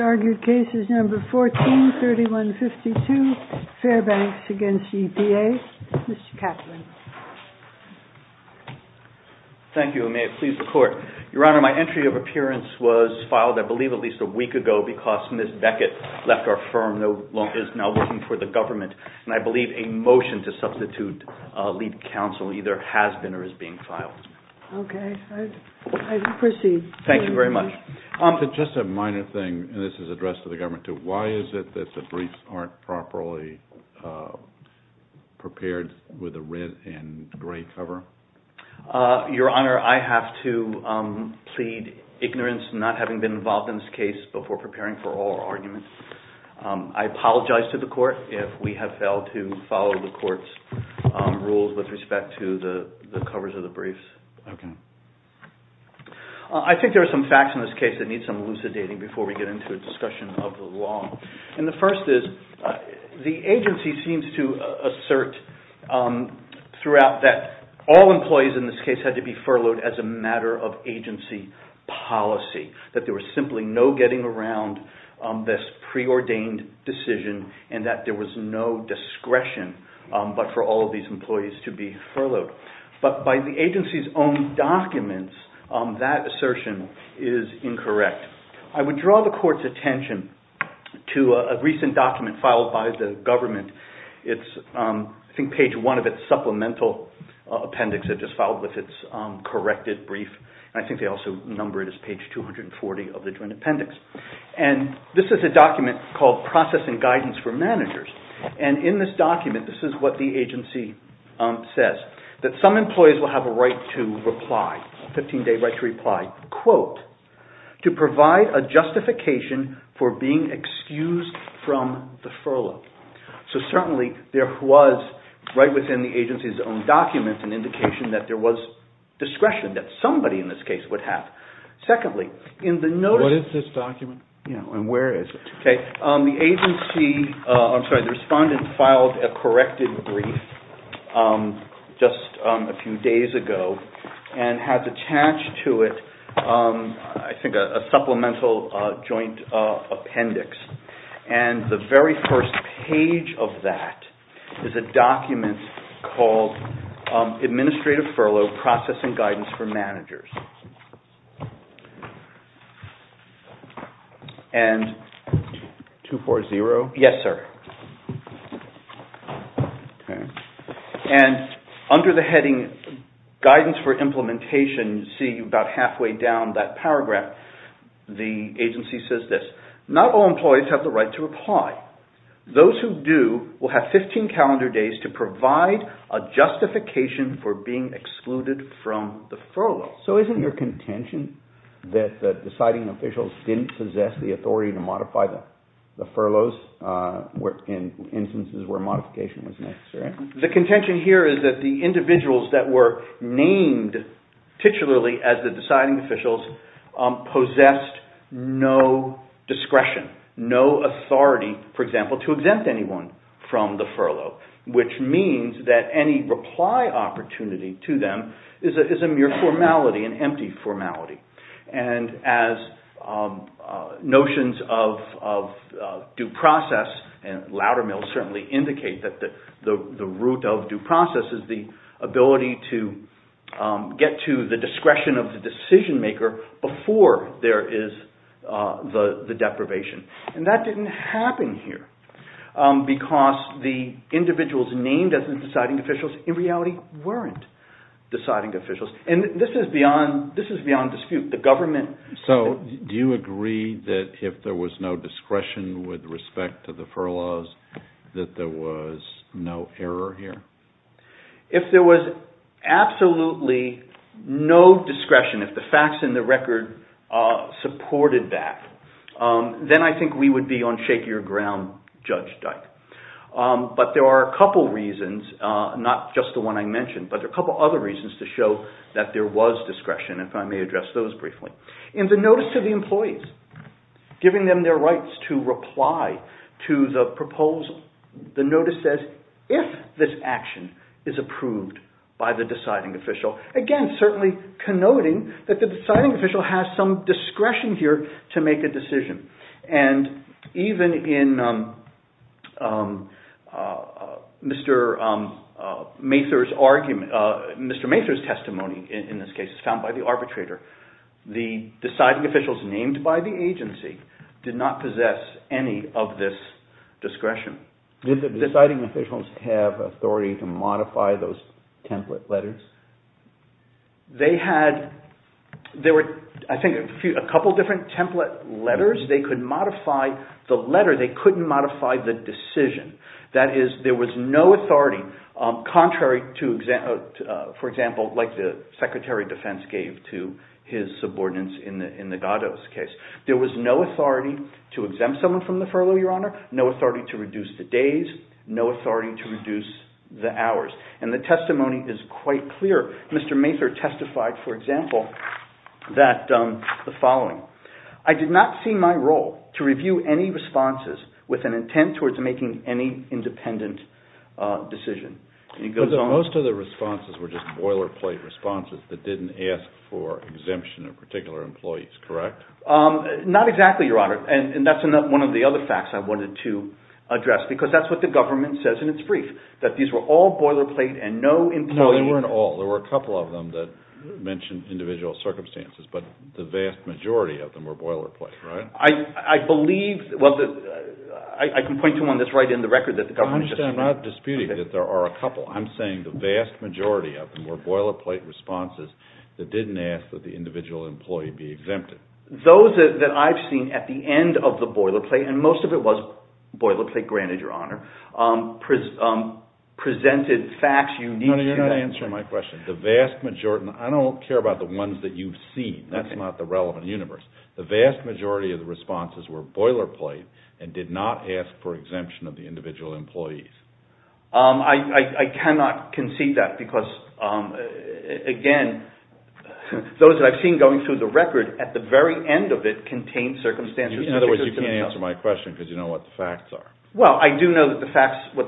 argued cases number 14 3152 Fairbanks against EPA. Mr. Kaplan. Thank you. May it please the court. Your Honor, my entry of appearance was filed, I believe, at least a week ago because Ms. Beckett left our firm, is now working for the government, and I believe a motion to substitute lead counsel either has been or is being filed. Okay, I proceed. Thank you very much. Just a minor thing. This is addressed to the government too. Why is it that the briefs aren't properly prepared with a red and gray cover? Your Honor, I have to plead ignorance not having been involved in this case before preparing for all arguments. I apologize to the court if we have failed to follow the court's rules with respect to the covers of the briefs. I think there are some facts in this case that need some elucidating before we get into a discussion of the law. The first is the agency seems to assert throughout that all employees in this case had to be furloughed as a matter of agency policy, that there was simply no getting around this preordained decision and that there was no discretion but for all of these employees to be furloughed. But by the agency's own documents, that assertion is incorrect. I would draw the court's attention to a recent document filed by the government. I think page one of its supplemental appendix it just filed with its corrected brief. I think they also number it as page 240 of the joint appendix. This is a document called Processing Guidance for Managers. In this document, this is what the agency says, that some employees will have a right to reply, a 15-day right to reply, quote, to provide a justification for being excused from the furlough. So certainly there was right within the agency's own documents an indication that there was discretion that somebody in this case would have. Secondly, in the notice… What is this document and where is it? The agency, I'm sorry, the respondent filed a corrected brief just a few days ago and has attached to it I think a supplemental joint appendix. And the very first page of that is a document called Administrative Furlough Processing Guidance for Managers. And 240? Yes, sir. Okay. And under the heading Guidance for Implementation, you see about halfway down that paragraph, the agency says this. Not all employees have the right to reply. Those who do will have 15 calendar days to provide a justification for being excluded from the furlough. So isn't your contention that the deciding officials didn't possess the authority to modify the furloughs in instances where modification was necessary? The contention here is that the individuals that were named titularly as the deciding officials possessed no discretion, no authority, for example, to exempt anyone from the furlough, which means that any reply opportunity to them is a mere formality, an empty formality. And as notions of due process and louder mail certainly indicate that the root of due process is the ability to get to the discretion of the decision maker before there is the deprivation. And that didn't happen here because the individuals named as the deciding officials in reality weren't deciding officials. And this is beyond dispute. So do you agree that if there was no discretion with respect to the furloughs that there was no error here? If there was absolutely no discretion, if the facts and the record supported that, then I think we would be on shakier ground, Judge Dyke. But there are a couple of reasons, not just the one I mentioned, but there are a couple of other reasons to show that there was discretion, if I may address those briefly. In the notice to the employees, giving them their rights to reply to the proposal, the notice says if this action is approved by the deciding official, again certainly connoting that the deciding official has some discretion here to make a decision. And even in Mr. Mather's testimony in this case, found by the arbitrator, the deciding officials named by the agency did not possess any of this discretion. Did the deciding officials have authority to modify those template letters? They had, there were I think a couple different template letters. They could modify the letter. They couldn't modify the decision. That is, there was no authority, contrary to, for example, like the Secretary of Defense gave to his subordinates in the Gattos case. There was no authority to exempt someone from the furlough, Your Honor. No authority to reduce the days. No authority to reduce the hours. And the testimony is quite clear. Mr. Mather testified, for example, that the following. I did not see my role to review any responses with an intent towards making any independent decision. Most of the responses were just boilerplate responses that didn't ask for exemption of particular employees, correct? Not exactly, Your Honor. And that's one of the other facts I wanted to address because that's what the government says in its brief, that these were all boilerplate and no employee. No, they weren't all. There were a couple of them that mentioned individual circumstances, but the vast majority of them were boilerplate, right? I believe, well, I can point to one that's right in the record that the government just said. I understand. I'm not disputing that there are a couple. I'm saying the vast majority of them were boilerplate responses that didn't ask that the individual employee be exempted. Those that I've seen at the end of the boilerplate, and most of it was boilerplate, granted, Your Honor, presented facts unique to that. No, you're not answering my question. I don't care about the ones that you've seen. That's not the relevant universe. The vast majority of the responses were boilerplate and did not ask for exemption of the individual employees. I cannot concede that because, again, those that I've seen going through the record, at the very end of it, contained circumstances. In other words, you can answer my question because you know what the facts are. Well, I do know what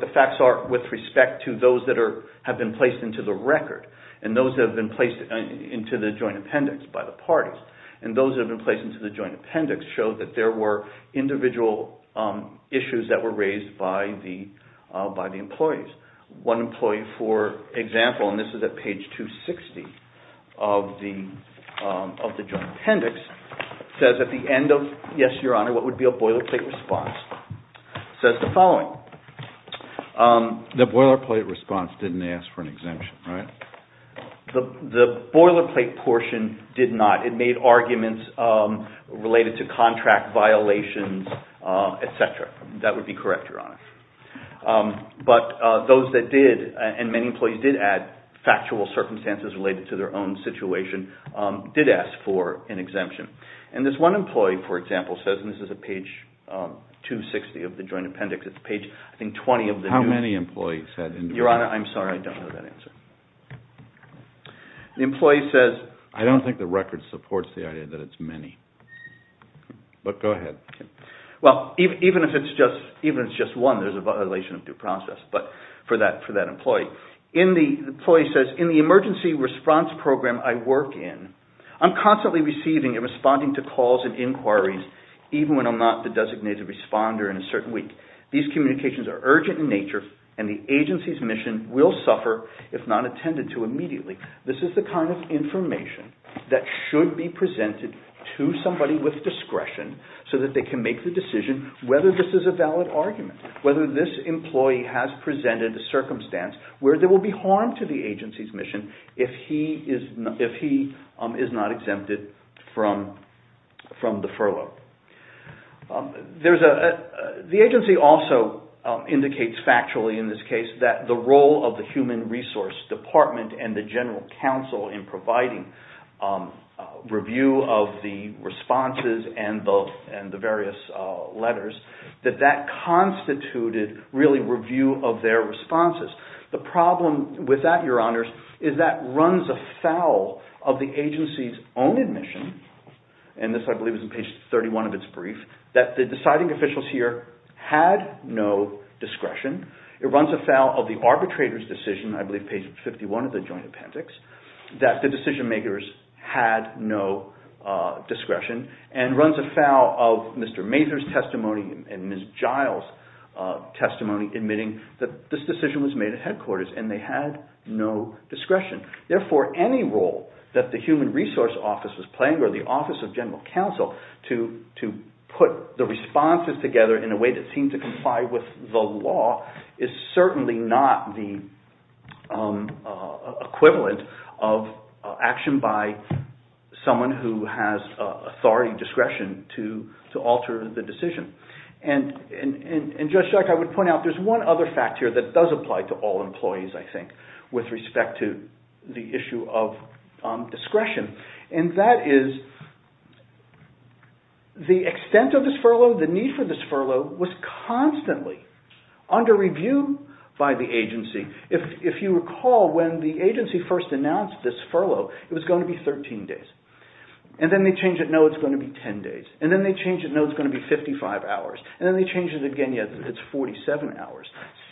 the facts are with respect to those that have been placed into the record and those that have been placed into the joint appendix by the parties. And those that have been placed into the joint appendix show that there were individual issues that were raised by the employees. One employee, for example, and this is at page 260 of the joint appendix, says at the end of, yes, Your Honor, what would be a boilerplate response, says the following. The boilerplate response didn't ask for an exemption, right? The boilerplate portion did not. It made arguments related to contract violations, et cetera. That would be correct, Your Honor. But those that did, and many employees did add factual circumstances related to their own situation, did ask for an exemption. And this one employee, for example, says, and this is at page 260 of the joint appendix. It's page, I think, 20 of the new- How many employees said- Your Honor, I'm sorry. I don't know that answer. The employee says- I don't think the record supports the idea that it's many. But go ahead. Well, even if it's just one, there's a violation of due process for that employee. The employee says, in the emergency response program I work in, I'm constantly receiving and responding to calls and inquiries, even when I'm not the designated responder in a certain week. These communications are urgent in nature, and the agency's mission will suffer if not attended to immediately. This is the kind of information that should be presented to somebody with discretion so that they can make the decision whether this is a valid argument, whether this employee has presented a circumstance where there will be harm to the agency's mission if he is not exempted from the furlough. The agency also indicates factually in this case that the role of the Human Resource Department and the General Counsel in providing review of the responses and the various letters, that that constituted really review of their responses. The problem with that, Your Honors, is that runs afoul of the agency's own admission. And this, I believe, is on page 31 of its brief, that the deciding officials here had no discretion. It runs afoul of the arbitrator's decision, I believe page 51 of the joint appendix, that the decision makers had no discretion. And runs afoul of Mr. Mazur's testimony and Ms. Giles' testimony admitting that this decision was made at headquarters and they had no discretion. Therefore, any role that the Human Resource Office is playing or the Office of General Counsel to put the responses together in a way that seems to comply with the law is certainly not the equivalent of action by someone who has authority and discretion to alter the decision. And, Judge Chuck, I would point out there's one other fact here that does apply to all employees, I think, with respect to the issue of discretion. And that is the extent of this furlough, the need for this furlough was constantly under review by the agency. If you recall, when the agency first announced this furlough, it was going to be 13 days. And then they change it, no, it's going to be 10 days. And then they change it, no, it's going to be 55 hours. And then they change it again, yes, it's 47 hours.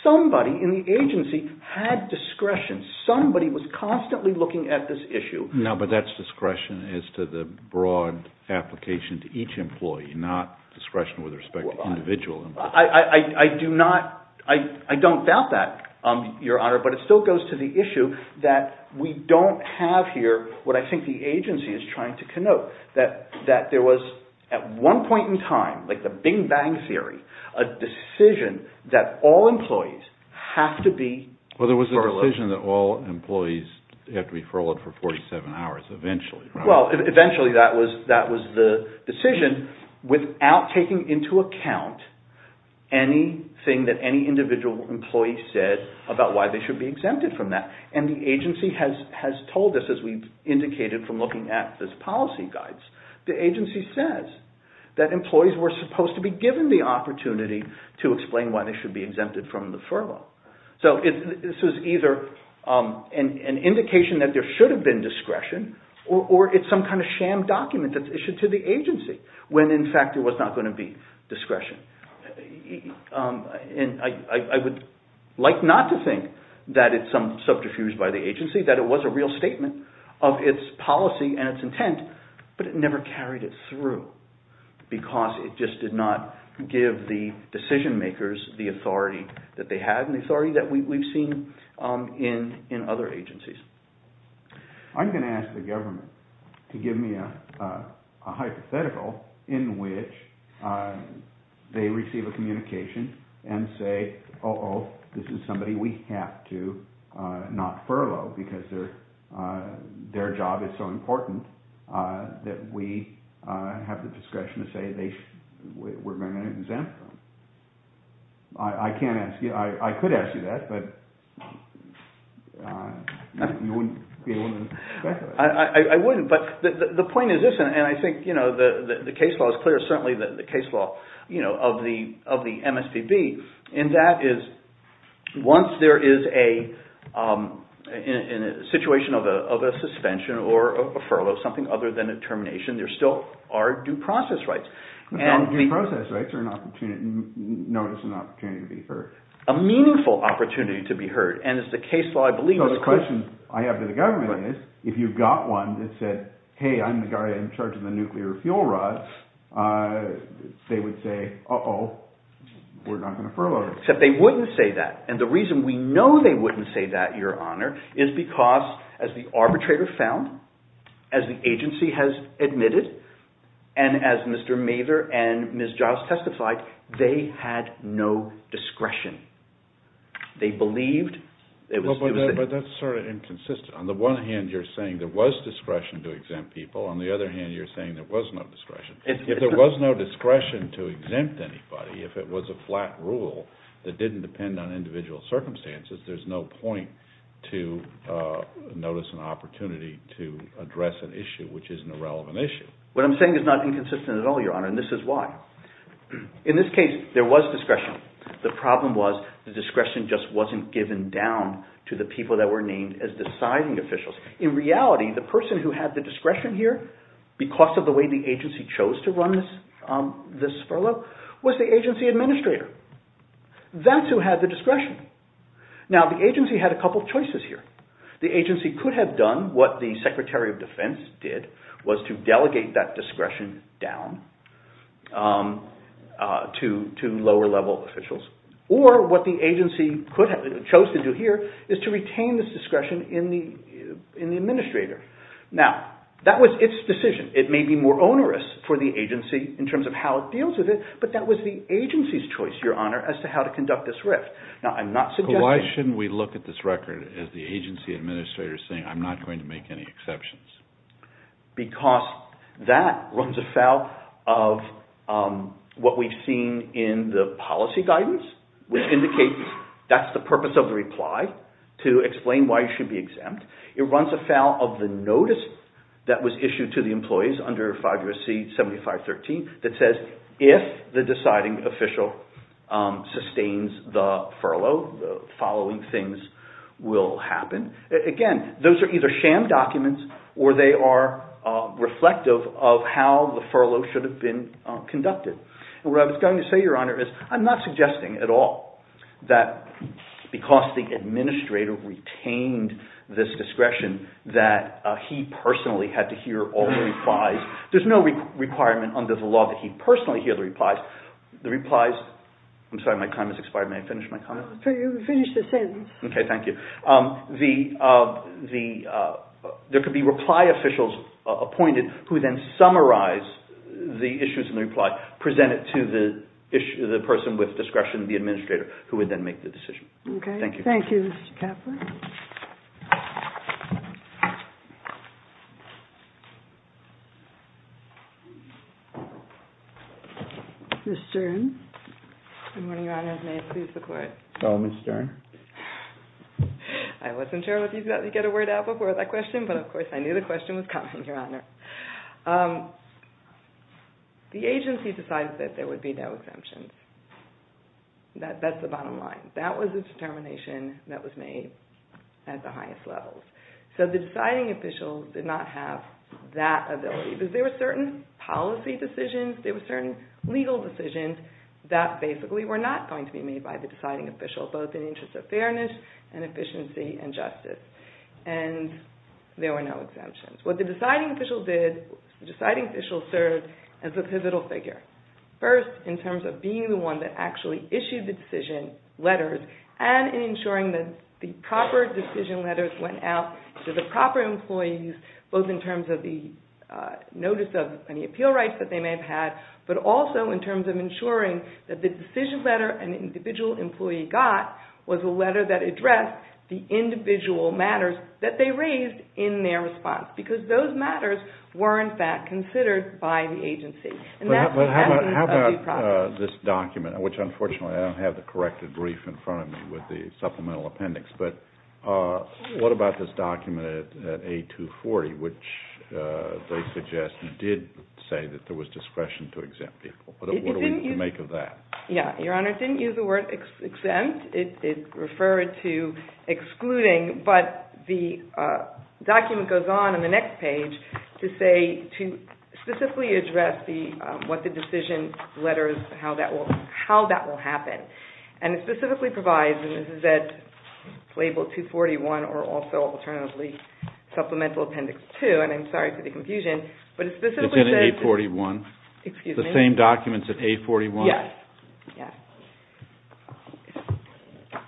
Somebody in the agency had discretion. Somebody was constantly looking at this issue. No, but that's discretion as to the broad application to each employee, not discretion with respect to individual employees. I don't doubt that, Your Honor, but it still goes to the issue that we don't have here what I think the agency is trying to connote. That there was, at one point in time, like the Bing Bang Theory, a decision that all employees have to be furloughed. Well, there was a decision that all employees have to be furloughed for 47 hours eventually. Well, eventually that was the decision without taking into account anything that any individual employee said about why they should be exempted from that. And the agency has told us, as we've indicated from looking at this policy guides, the agency says that employees were supposed to be given the opportunity to explain why they should be exempted from the furlough. So this was either an indication that there should have been discretion, or it's some kind of sham document that's issued to the agency when, in fact, there was not going to be discretion. And I would like not to think that it's some subterfuge by the agency, that it was a real statement of its policy and its intent, but it never carried it through because it just did not give the decision makers the authority that they had and the authority that we've seen in other agencies. I'm going to ask the government to give me a hypothetical in which they receive a communication and say, uh-oh, this is somebody we have to not furlough because their job is so important that we have the discretion to say we're going to exempt them. I could ask you that, but you wouldn't be willing to speculate. I wouldn't, but the point is this, and I think the case law is clear, certainly the case law of the MSPB, and that is once there is a situation of a suspension or a furlough, something other than a termination, there still are due process rights. Due process rights are an opportunity, known as an opportunity to be heard. A meaningful opportunity to be heard, and it's the case law, I believe. So the question I have to the government is, if you've got one that said, hey, I'm the guy in charge of the nuclear fuel rods, they would say, uh-oh, we're not going to furlough them. Except they wouldn't say that, and the reason we know they wouldn't say that, Your Honor, is because as the arbitrator found, as the agency has admitted, and as Mr. Mather and Ms. Giles testified, they had no discretion. They believed it was... But that's sort of inconsistent. On the one hand, you're saying there was discretion to exempt people. On the other hand, you're saying there was no discretion. If there was no discretion to exempt anybody, if it was a flat rule that didn't depend on individual circumstances, there's no point to notice an opportunity to address an issue which isn't a relevant issue. What I'm saying is not inconsistent at all, Your Honor, and this is why. In this case, there was discretion. The problem was the discretion just wasn't given down to the people that were named as deciding officials. In reality, the person who had the discretion here, because of the way the agency chose to run this furlough, was the agency administrator. That's who had the discretion. Now, the agency had a couple of choices here. The agency could have done what the Secretary of Defense did, was to delegate that discretion down to lower-level officials, or what the agency chose to do here is to retain this discretion in the administrator. Now, that was its decision. It may be more onerous for the agency in terms of how it deals with it, but that was the agency's choice, Your Honor, as to how to conduct this RIF. Now, I'm not suggesting... Why shouldn't we look at this record as the agency administrator saying, I'm not going to make any exceptions? Because that runs afoul of what we've seen in the policy guidance, which indicates that's the purpose of the reply, to explain why you should be exempt. It runs afoul of the notice that was issued to the employees under 5 U.S.C. 7513 that says if the deciding official sustains the furlough, the following things will happen. Again, those are either sham documents or they are reflective of how the furlough should have been conducted. What I was going to say, Your Honor, is I'm not suggesting at all that because the administrator retained this discretion that he personally had to hear all the replies. There's no requirement under the law that he personally hear the replies. The replies... I'm sorry, my time has expired. May I finish my comment? Finish the sentence. Okay, thank you. There could be reply officials appointed who then summarize the issues in the reply, present it to the person with discretion, the administrator, who would then make the decision. Thank you. Thank you, Mr. Kaplan. Ms. Stern? Good morning, Your Honor. May it please the Court? So, Ms. Stern? I wasn't sure if you'd get a word out before that question, but of course I knew the question was coming, Your Honor. The agency decided that there would be no exemptions. That's the bottom line. That was a determination that was made at the highest levels. So the deciding official did not have that ability because there were certain policy decisions, there were certain legal decisions that basically were not going to be made by the deciding official, both in the interest of fairness and efficiency and justice. And there were no exemptions. What the deciding official did, the deciding official served as a pivotal figure. First, in terms of being the one that actually issued the decision letters and in ensuring that the proper decision letters went out to the proper employees, both in terms of the notice of any appeal rights that they may have had, but also in terms of ensuring that the decision letter an individual employee got was a letter that addressed the individual matters that they raised in their response. Because those matters were, in fact, considered by the agency. But how about this document, which unfortunately I don't have the corrected brief in front of me with the supplemental appendix, but what about this document at A240, which they suggest did say that there was discretion to exempt people. What do we make of that? Your Honor, it didn't use the word exempt. It referred to excluding, but the document goes on in the next page to specifically address what the decision letters, how that will happen. And it specifically provides, and this is at label 241 or also alternatively supplemental appendix 2, and I'm sorry for the confusion. It's in A41? Excuse me? The same document's at A41? Yes.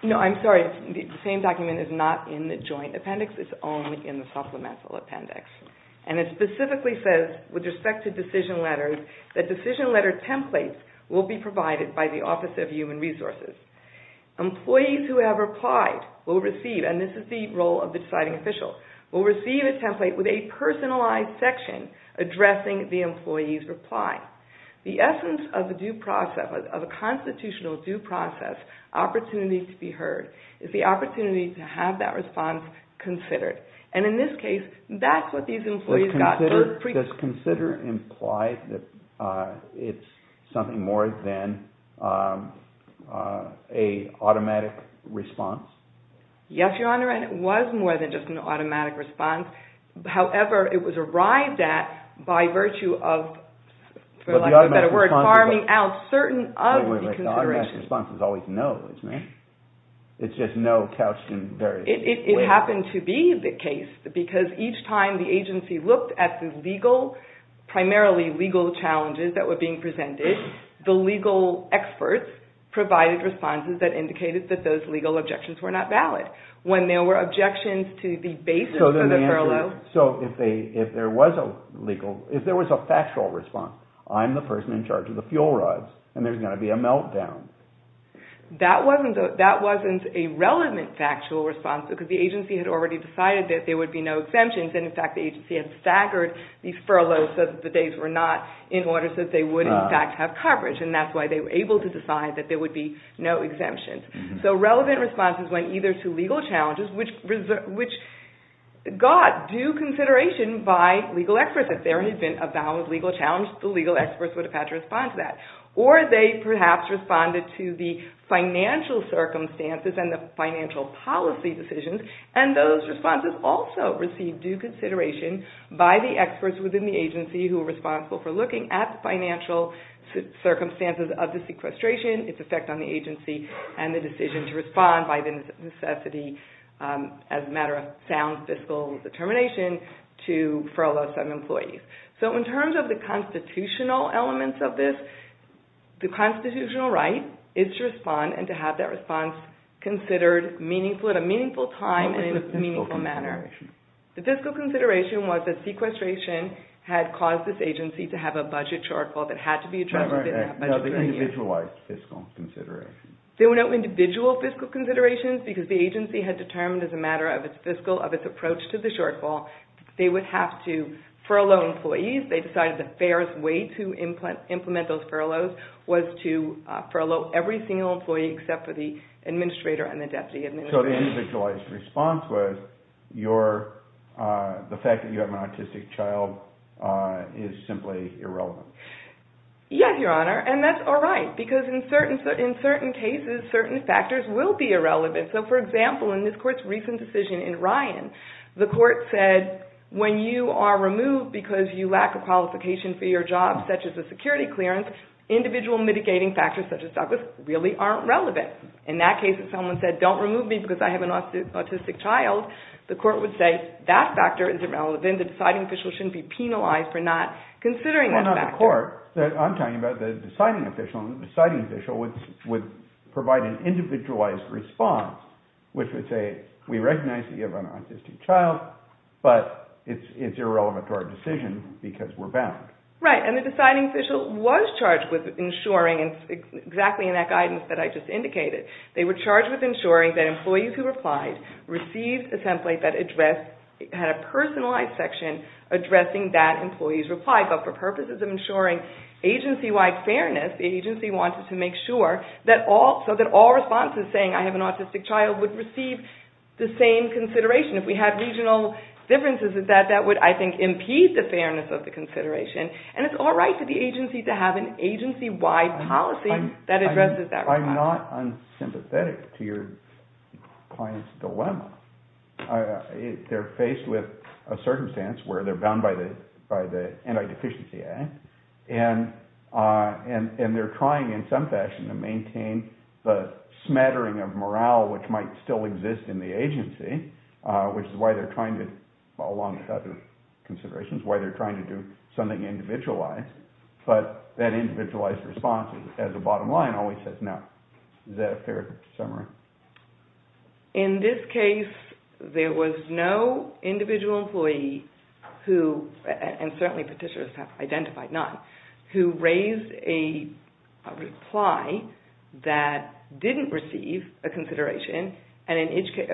No, I'm sorry. The same document is not in the joint appendix. It's only in the supplemental appendix. And it specifically says, with respect to decision letters, that decision letter templates will be provided by the Office of Human Resources. Employees who have replied will receive, and this is the role of the deciding official, will receive a template with a personalized section addressing the employee's reply. The essence of a constitutional due process opportunity to be heard is the opportunity to have that response considered. And in this case, that's what these employees got. Does consider imply that it's something more than an automatic response? Yes, Your Honor, and it was more than just an automatic response. However, it was arrived at by virtue of, for lack of a better word, farming out certain of the considerations. The automatic response is always no, isn't it? It's just no couched in various ways. It happened to be the case, because each time the agency looked at the legal, primarily legal challenges that were being presented, the legal experts provided responses that indicated that those legal objections were not valid. When there were objections to the basis of the furlough. So if there was a legal, if there was a factual response, I'm the person in charge of the fuel rods, and there's going to be a meltdown. That wasn't a relevant factual response, because the agency had already decided that there would be no exemptions, and in fact the agency had staggered the furlough so that the days were not in order, so that they would in fact have coverage. And that's why they were able to decide that there would be no exemptions. So relevant responses went either to legal challenges, which got due consideration by legal experts. If there had been a valid legal challenge, the legal experts would have had to respond to that. Or they perhaps responded to the financial circumstances and the financial policy decisions, and those responses also received due consideration by the experts within the agency who were responsible for looking at the financial circumstances of the sequestration, its effect on the agency, and the decision to respond by the necessity, as a matter of sound fiscal determination, to furlough some employees. So in terms of the constitutional elements of this, the constitutional right is to respond and to have that response considered meaningful, at a meaningful time and in a meaningful manner. What was the fiscal consideration? The fiscal consideration was that sequestration had caused this agency to have a budget shortfall that had to be addressed within that budget period. No, the individualized fiscal consideration. There were no individual fiscal considerations, because the agency had determined as a matter of its fiscal, of its approach to the shortfall, they would have to furlough employees. They decided the fairest way to implement those furloughs was to furlough every single employee except for the administrator and the deputy administrator. So the individualized response was the fact that you have an autistic child is simply irrelevant. Yes, Your Honor, and that's all right, because in certain cases, certain factors will be irrelevant. So, for example, in this court's recent decision in Ryan, the court said when you are removed because you lack a qualification for your job, such as a security clearance, individual mitigating factors, such as Douglas, really aren't relevant. In that case, if someone said, don't remove me because I have an autistic child, the court would say that factor is irrelevant, the deciding official shouldn't be penalized for not considering that factor. Well, not the court. I'm talking about the deciding official, and the deciding official would provide an individualized response, which would say we recognize that you have an autistic child, but it's irrelevant to our decision because we're bound. Right, and the deciding official was charged with ensuring, and it's exactly in that guidance that I just indicated, they were charged with ensuring that employees who replied received a template that addressed, had a personalized section addressing that employee's reply, but for purposes of ensuring agency-wide fairness, the agency wanted to make sure that all responses saying, I have an autistic child, would receive the same consideration. If we had regional differences in that, that would, I think, impede the fairness of the consideration, and it's all right for the agency to have an agency-wide policy that addresses that reply. They're faced with a circumstance where they're bound by the Anti-Deficiency Act, and they're trying in some fashion to maintain the smattering of morale, which might still exist in the agency, which is why they're trying to, along with other considerations, why they're trying to do something individualized, but that individualized response as a bottom line always says no. Is that a fair summary? In this case, there was no individual employee who, and certainly petitioners have identified none, who raised a reply that didn't receive a consideration,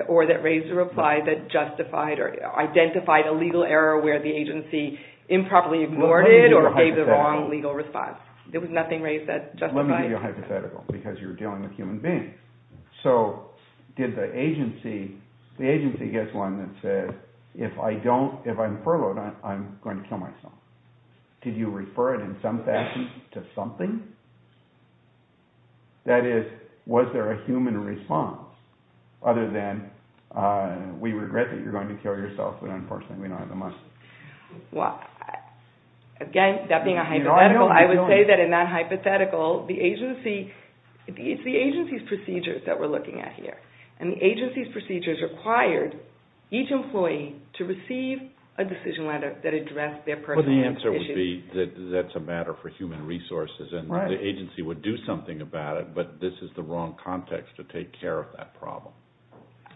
or that raised a reply that justified or identified a legal error where the agency improperly ignored it or gave the wrong legal response. There was nothing raised that justified. Let me give you a hypothetical, because you're dealing with human beings. So did the agency, the agency gets one that says, if I'm furloughed, I'm going to kill myself. Did you refer it in some fashion to something? That is, was there a human response, other than we regret that you're going to kill yourself, but unfortunately we don't have the money. Well, again, that being a hypothetical, I would say that in that hypothetical, the agency, it's the agency's procedures that we're looking at here, and the agency's procedures required each employee to receive a decision letter that addressed their personal issues. Well, the answer would be that that's a matter for human resources, and the agency would do something about it, but this is the wrong context to take care of that problem.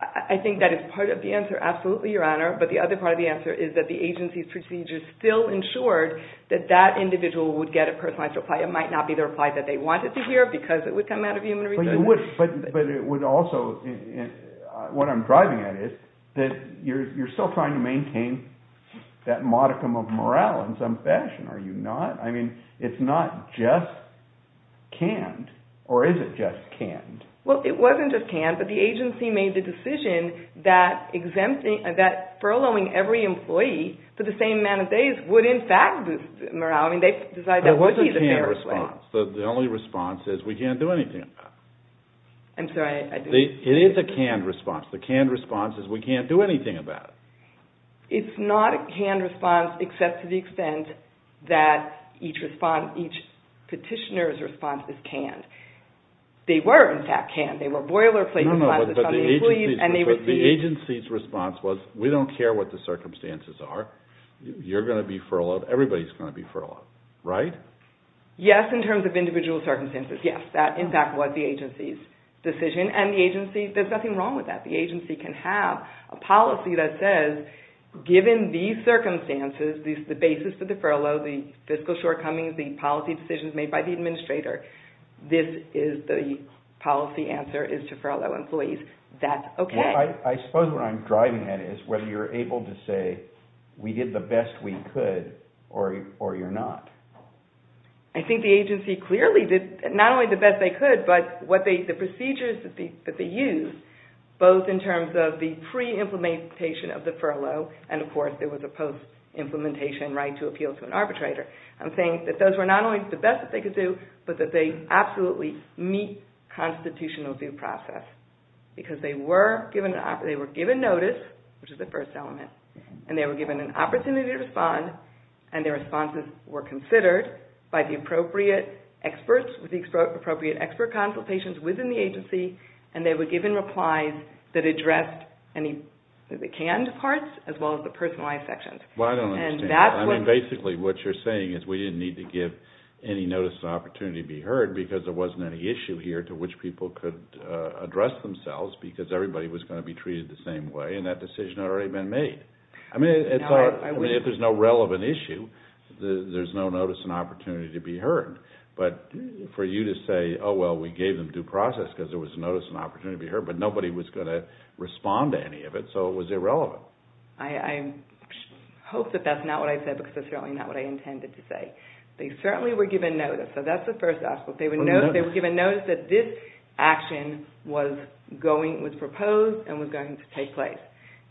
I think that is part of the answer, absolutely, Your Honor, but the other part of the answer is that the agency's procedures still ensured that that individual would get a personalized reply. It might not be the reply that they wanted to hear, because it would come out of human resources. But it would also, what I'm driving at is, that you're still trying to maintain that modicum of morale in some fashion, are you not? I mean, it's not just canned, or is it just canned? Well, it wasn't just canned, but the agency made the decision that furloughing every employee for the same amount of days would in fact boost morale. It was a canned response. The only response is, we can't do anything about it. I'm sorry. It is a canned response. The canned response is, we can't do anything about it. It's not a canned response except to the extent that each petitioner's response is canned. They were, in fact, canned. They were boilerplate responses on the employees, and they received... No, no, but the agency's response was, we don't care what the circumstances are. You're going to be furloughed. Everybody's going to be furloughed, right? Yes, in terms of individual circumstances, yes. That, in fact, was the agency's decision. And the agency, there's nothing wrong with that. The agency can have a policy that says, given these circumstances, the basis for the furlough, the fiscal shortcomings, the policy decisions made by the administrator, this is the policy answer is to furlough employees. That's okay. I suppose what I'm driving at is, whether you're able to say, we did the best we could, or you're not. I think the agency clearly did not only the best they could, but the procedures that they used, both in terms of the pre-implementation of the furlough, and, of course, there was a post-implementation right to appeal to an arbitrator. I'm saying that those were not only the best that they could do, but that they absolutely meet constitutional due process, because they were given notice, which is the first element, and they were given an opportunity to respond, and their responses were considered by the appropriate experts, with the appropriate expert consultations within the agency, and they were given replies that addressed any canned parts, as well as the personalized sections. Well, I don't understand. Basically, what you're saying is we didn't need to give any notice of opportunity to be heard because there wasn't any issue here to which people could address themselves, because everybody was going to be treated the same way, and that decision had already been made. I mean, if there's no relevant issue, there's no notice and opportunity to be heard. But for you to say, oh, well, we gave them due process because there was a notice and opportunity to be heard, but nobody was going to respond to any of it, so it was irrelevant. I hope that that's not what I said, because that's certainly not what I intended to say. They certainly were given notice, so that's the first aspect. They were given notice that this action was proposed and was going to take place.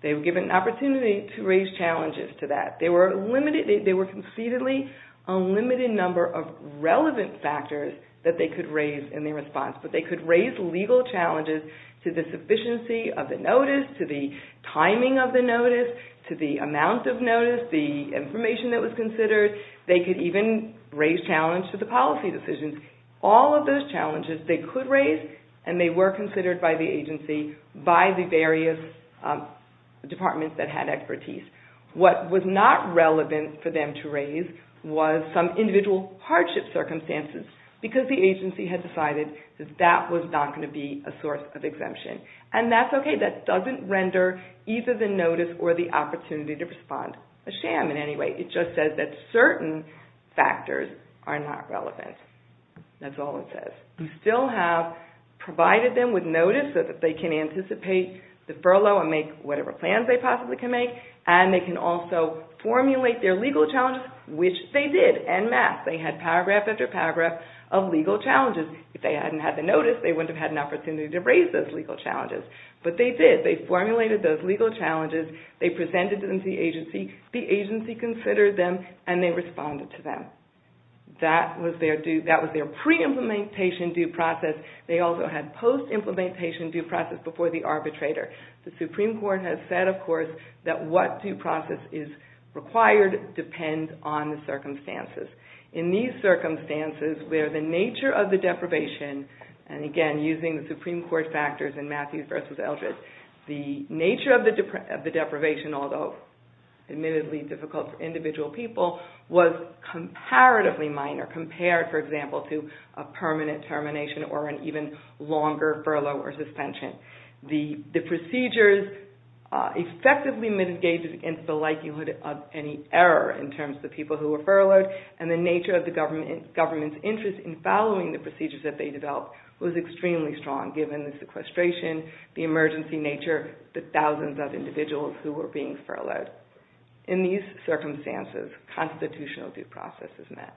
They were given an opportunity to raise challenges to that. They were concededly a limited number of relevant factors that they could raise in their response, but they could raise legal challenges to the sufficiency of the notice, to the timing of the notice, to the amount of notice, the information that was considered. They could even raise challenges to the policy decisions. All of those challenges they could raise, and they were considered by the agency, by the various departments that had expertise. What was not relevant for them to raise was some individual hardship circumstances, because the agency had decided that that was not going to be a source of exemption. And that's okay. That doesn't render either the notice or the opportunity to respond a sham in any way. It just says that certain factors are not relevant. That's all it says. You still have provided them with notice so that they can anticipate the furlough and make whatever plans they possibly can make, and they can also formulate their legal challenges, which they did en masse. They had paragraph after paragraph of legal challenges. If they hadn't had the notice, they wouldn't have had an opportunity to raise those legal challenges. But they did. They formulated those legal challenges. They presented them to the agency. The agency considered them, and they responded to them. That was their pre-implementation due process. They also had post-implementation due process before the arbitrator. The Supreme Court has said, of course, that what due process is required depends on the circumstances. In these circumstances, where the nature of the deprivation, and again, using the Supreme Court factors in Matthews v. Eldred, the nature of the deprivation, although admittedly difficult for individual people, was comparatively minor, compared, for example, to a permanent termination or an even longer furlough or suspension. The procedures effectively mitigated against the likelihood of any error in terms of the people who were furloughed, and the nature of the government's interest in following the procedures that they developed was extremely strong, given the sequestration, the emergency nature, the thousands of individuals who were being furloughed. In these circumstances, constitutional due process is met.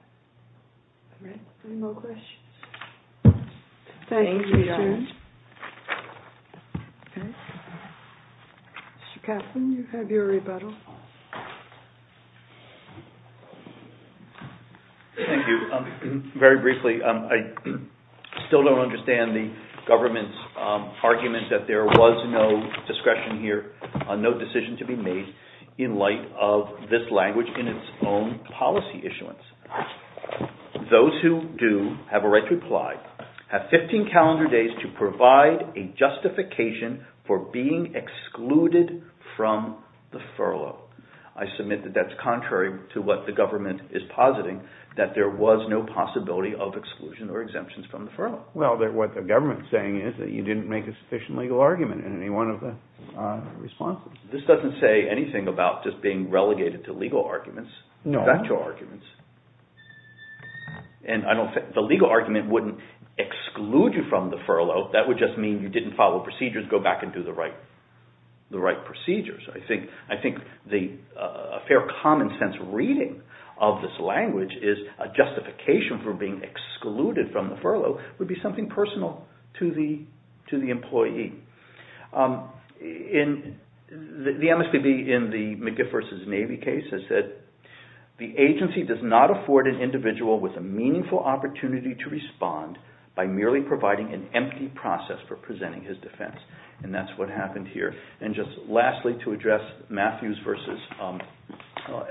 Any more questions? Thank you, Sharon. Mr. Kaplan, you have your rebuttal. Thank you. Very briefly, I still don't understand the government's argument that there was no discretion here, no decision to be made in light of this language in its own policy issuance. Those who do have a right to apply have 15 calendar days to provide a justification for being excluded from the furlough. I submit that that's contrary to what the government is positing, that there was no possibility of exclusion or exemptions from the furlough. Well, what the government's saying is that you didn't make a sufficient legal argument in any one of the responses. This doesn't say anything about just being relegated to legal arguments, factual arguments. The legal argument wouldn't exclude you from the furlough. That would just mean you didn't follow procedures, go back and do the right procedures. I think a fair common sense reading of this language is a justification for being excluded from the furlough would be something personal to the employee. The MSPB in the McGiff v. Navy case has said, the agency does not afford an individual with a meaningful opportunity to respond by merely providing an empty process for presenting his defense. And that's what happened here. And just lastly, to address Matthews v.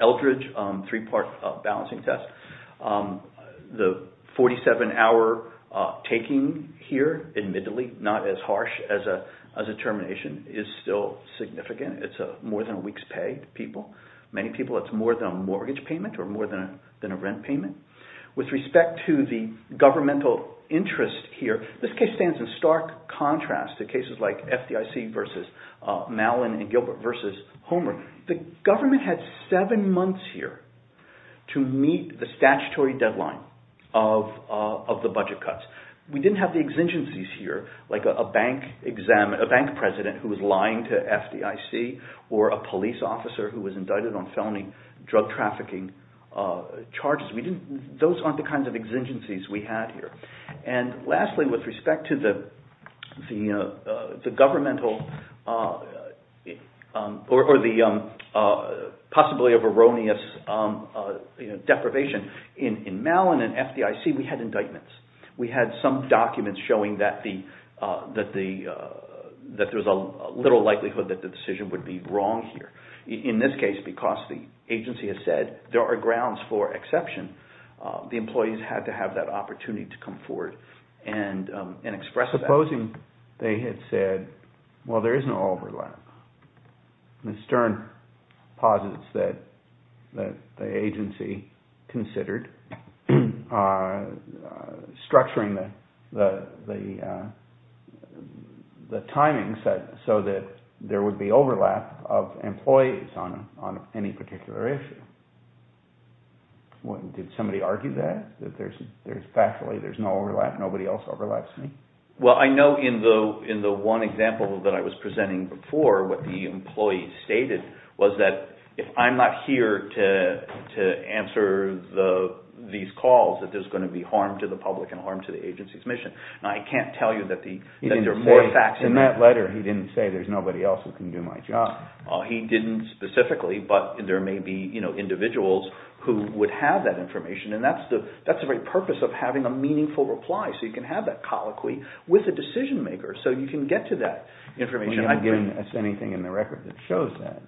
Eldridge, three-part balancing test, the 47-hour taking here, admittedly not as harsh as a termination, is still significant. It's more than a week's pay to people. Many people, it's more than a mortgage payment or more than a rent payment. With respect to the governmental interest here, this case stands in stark contrast to cases like FDIC v. Mallin and Gilbert v. Homer. The government had seven months here to meet the statutory deadline of the budget cuts. We didn't have the exigencies here, like a bank president who was lying to FDIC or a police officer who was indicted on felony drug trafficking charges. Those aren't the kinds of exigencies we had here. And lastly, with respect to the governmental or the possibility of erroneous deprivation, in Mallin and FDIC, we had indictments. We had some documents showing that there's a little likelihood that the decision would be wrong here. In this case, because the agency has said there are grounds for exception, the employees had to have that opportunity to come forward and express that. In closing, they had said, well, there is no overlap. Ms. Stern posits that the agency considered structuring the timing so that there would be overlap of employees on any particular issue. Did somebody argue that? That factually there's no overlap, nobody else overlaps? Well, I know in the one example that I was presenting before, what the employee stated was that if I'm not here to answer these calls, that there's going to be harm to the public and harm to the agency's mission. Now, I can't tell you that there are more facts in that. In that letter, he didn't say there's nobody else who can do my job. He didn't specifically, but there may be individuals who would have that information, and that's the very purpose of having a meaningful reply, so you can have that colloquy with a decision-maker so you can get to that information. You're not giving us anything in the record that shows that.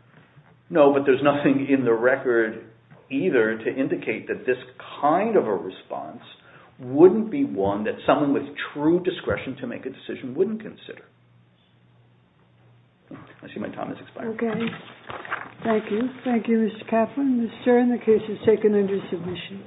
No, but there's nothing in the record either to indicate that this kind of a response wouldn't be one that someone with true discretion to make a decision wouldn't consider. I see my time has expired. Okay. Thank you. Thank you, Mr. Kaplan. Ms. Stern, the case is taken under submission.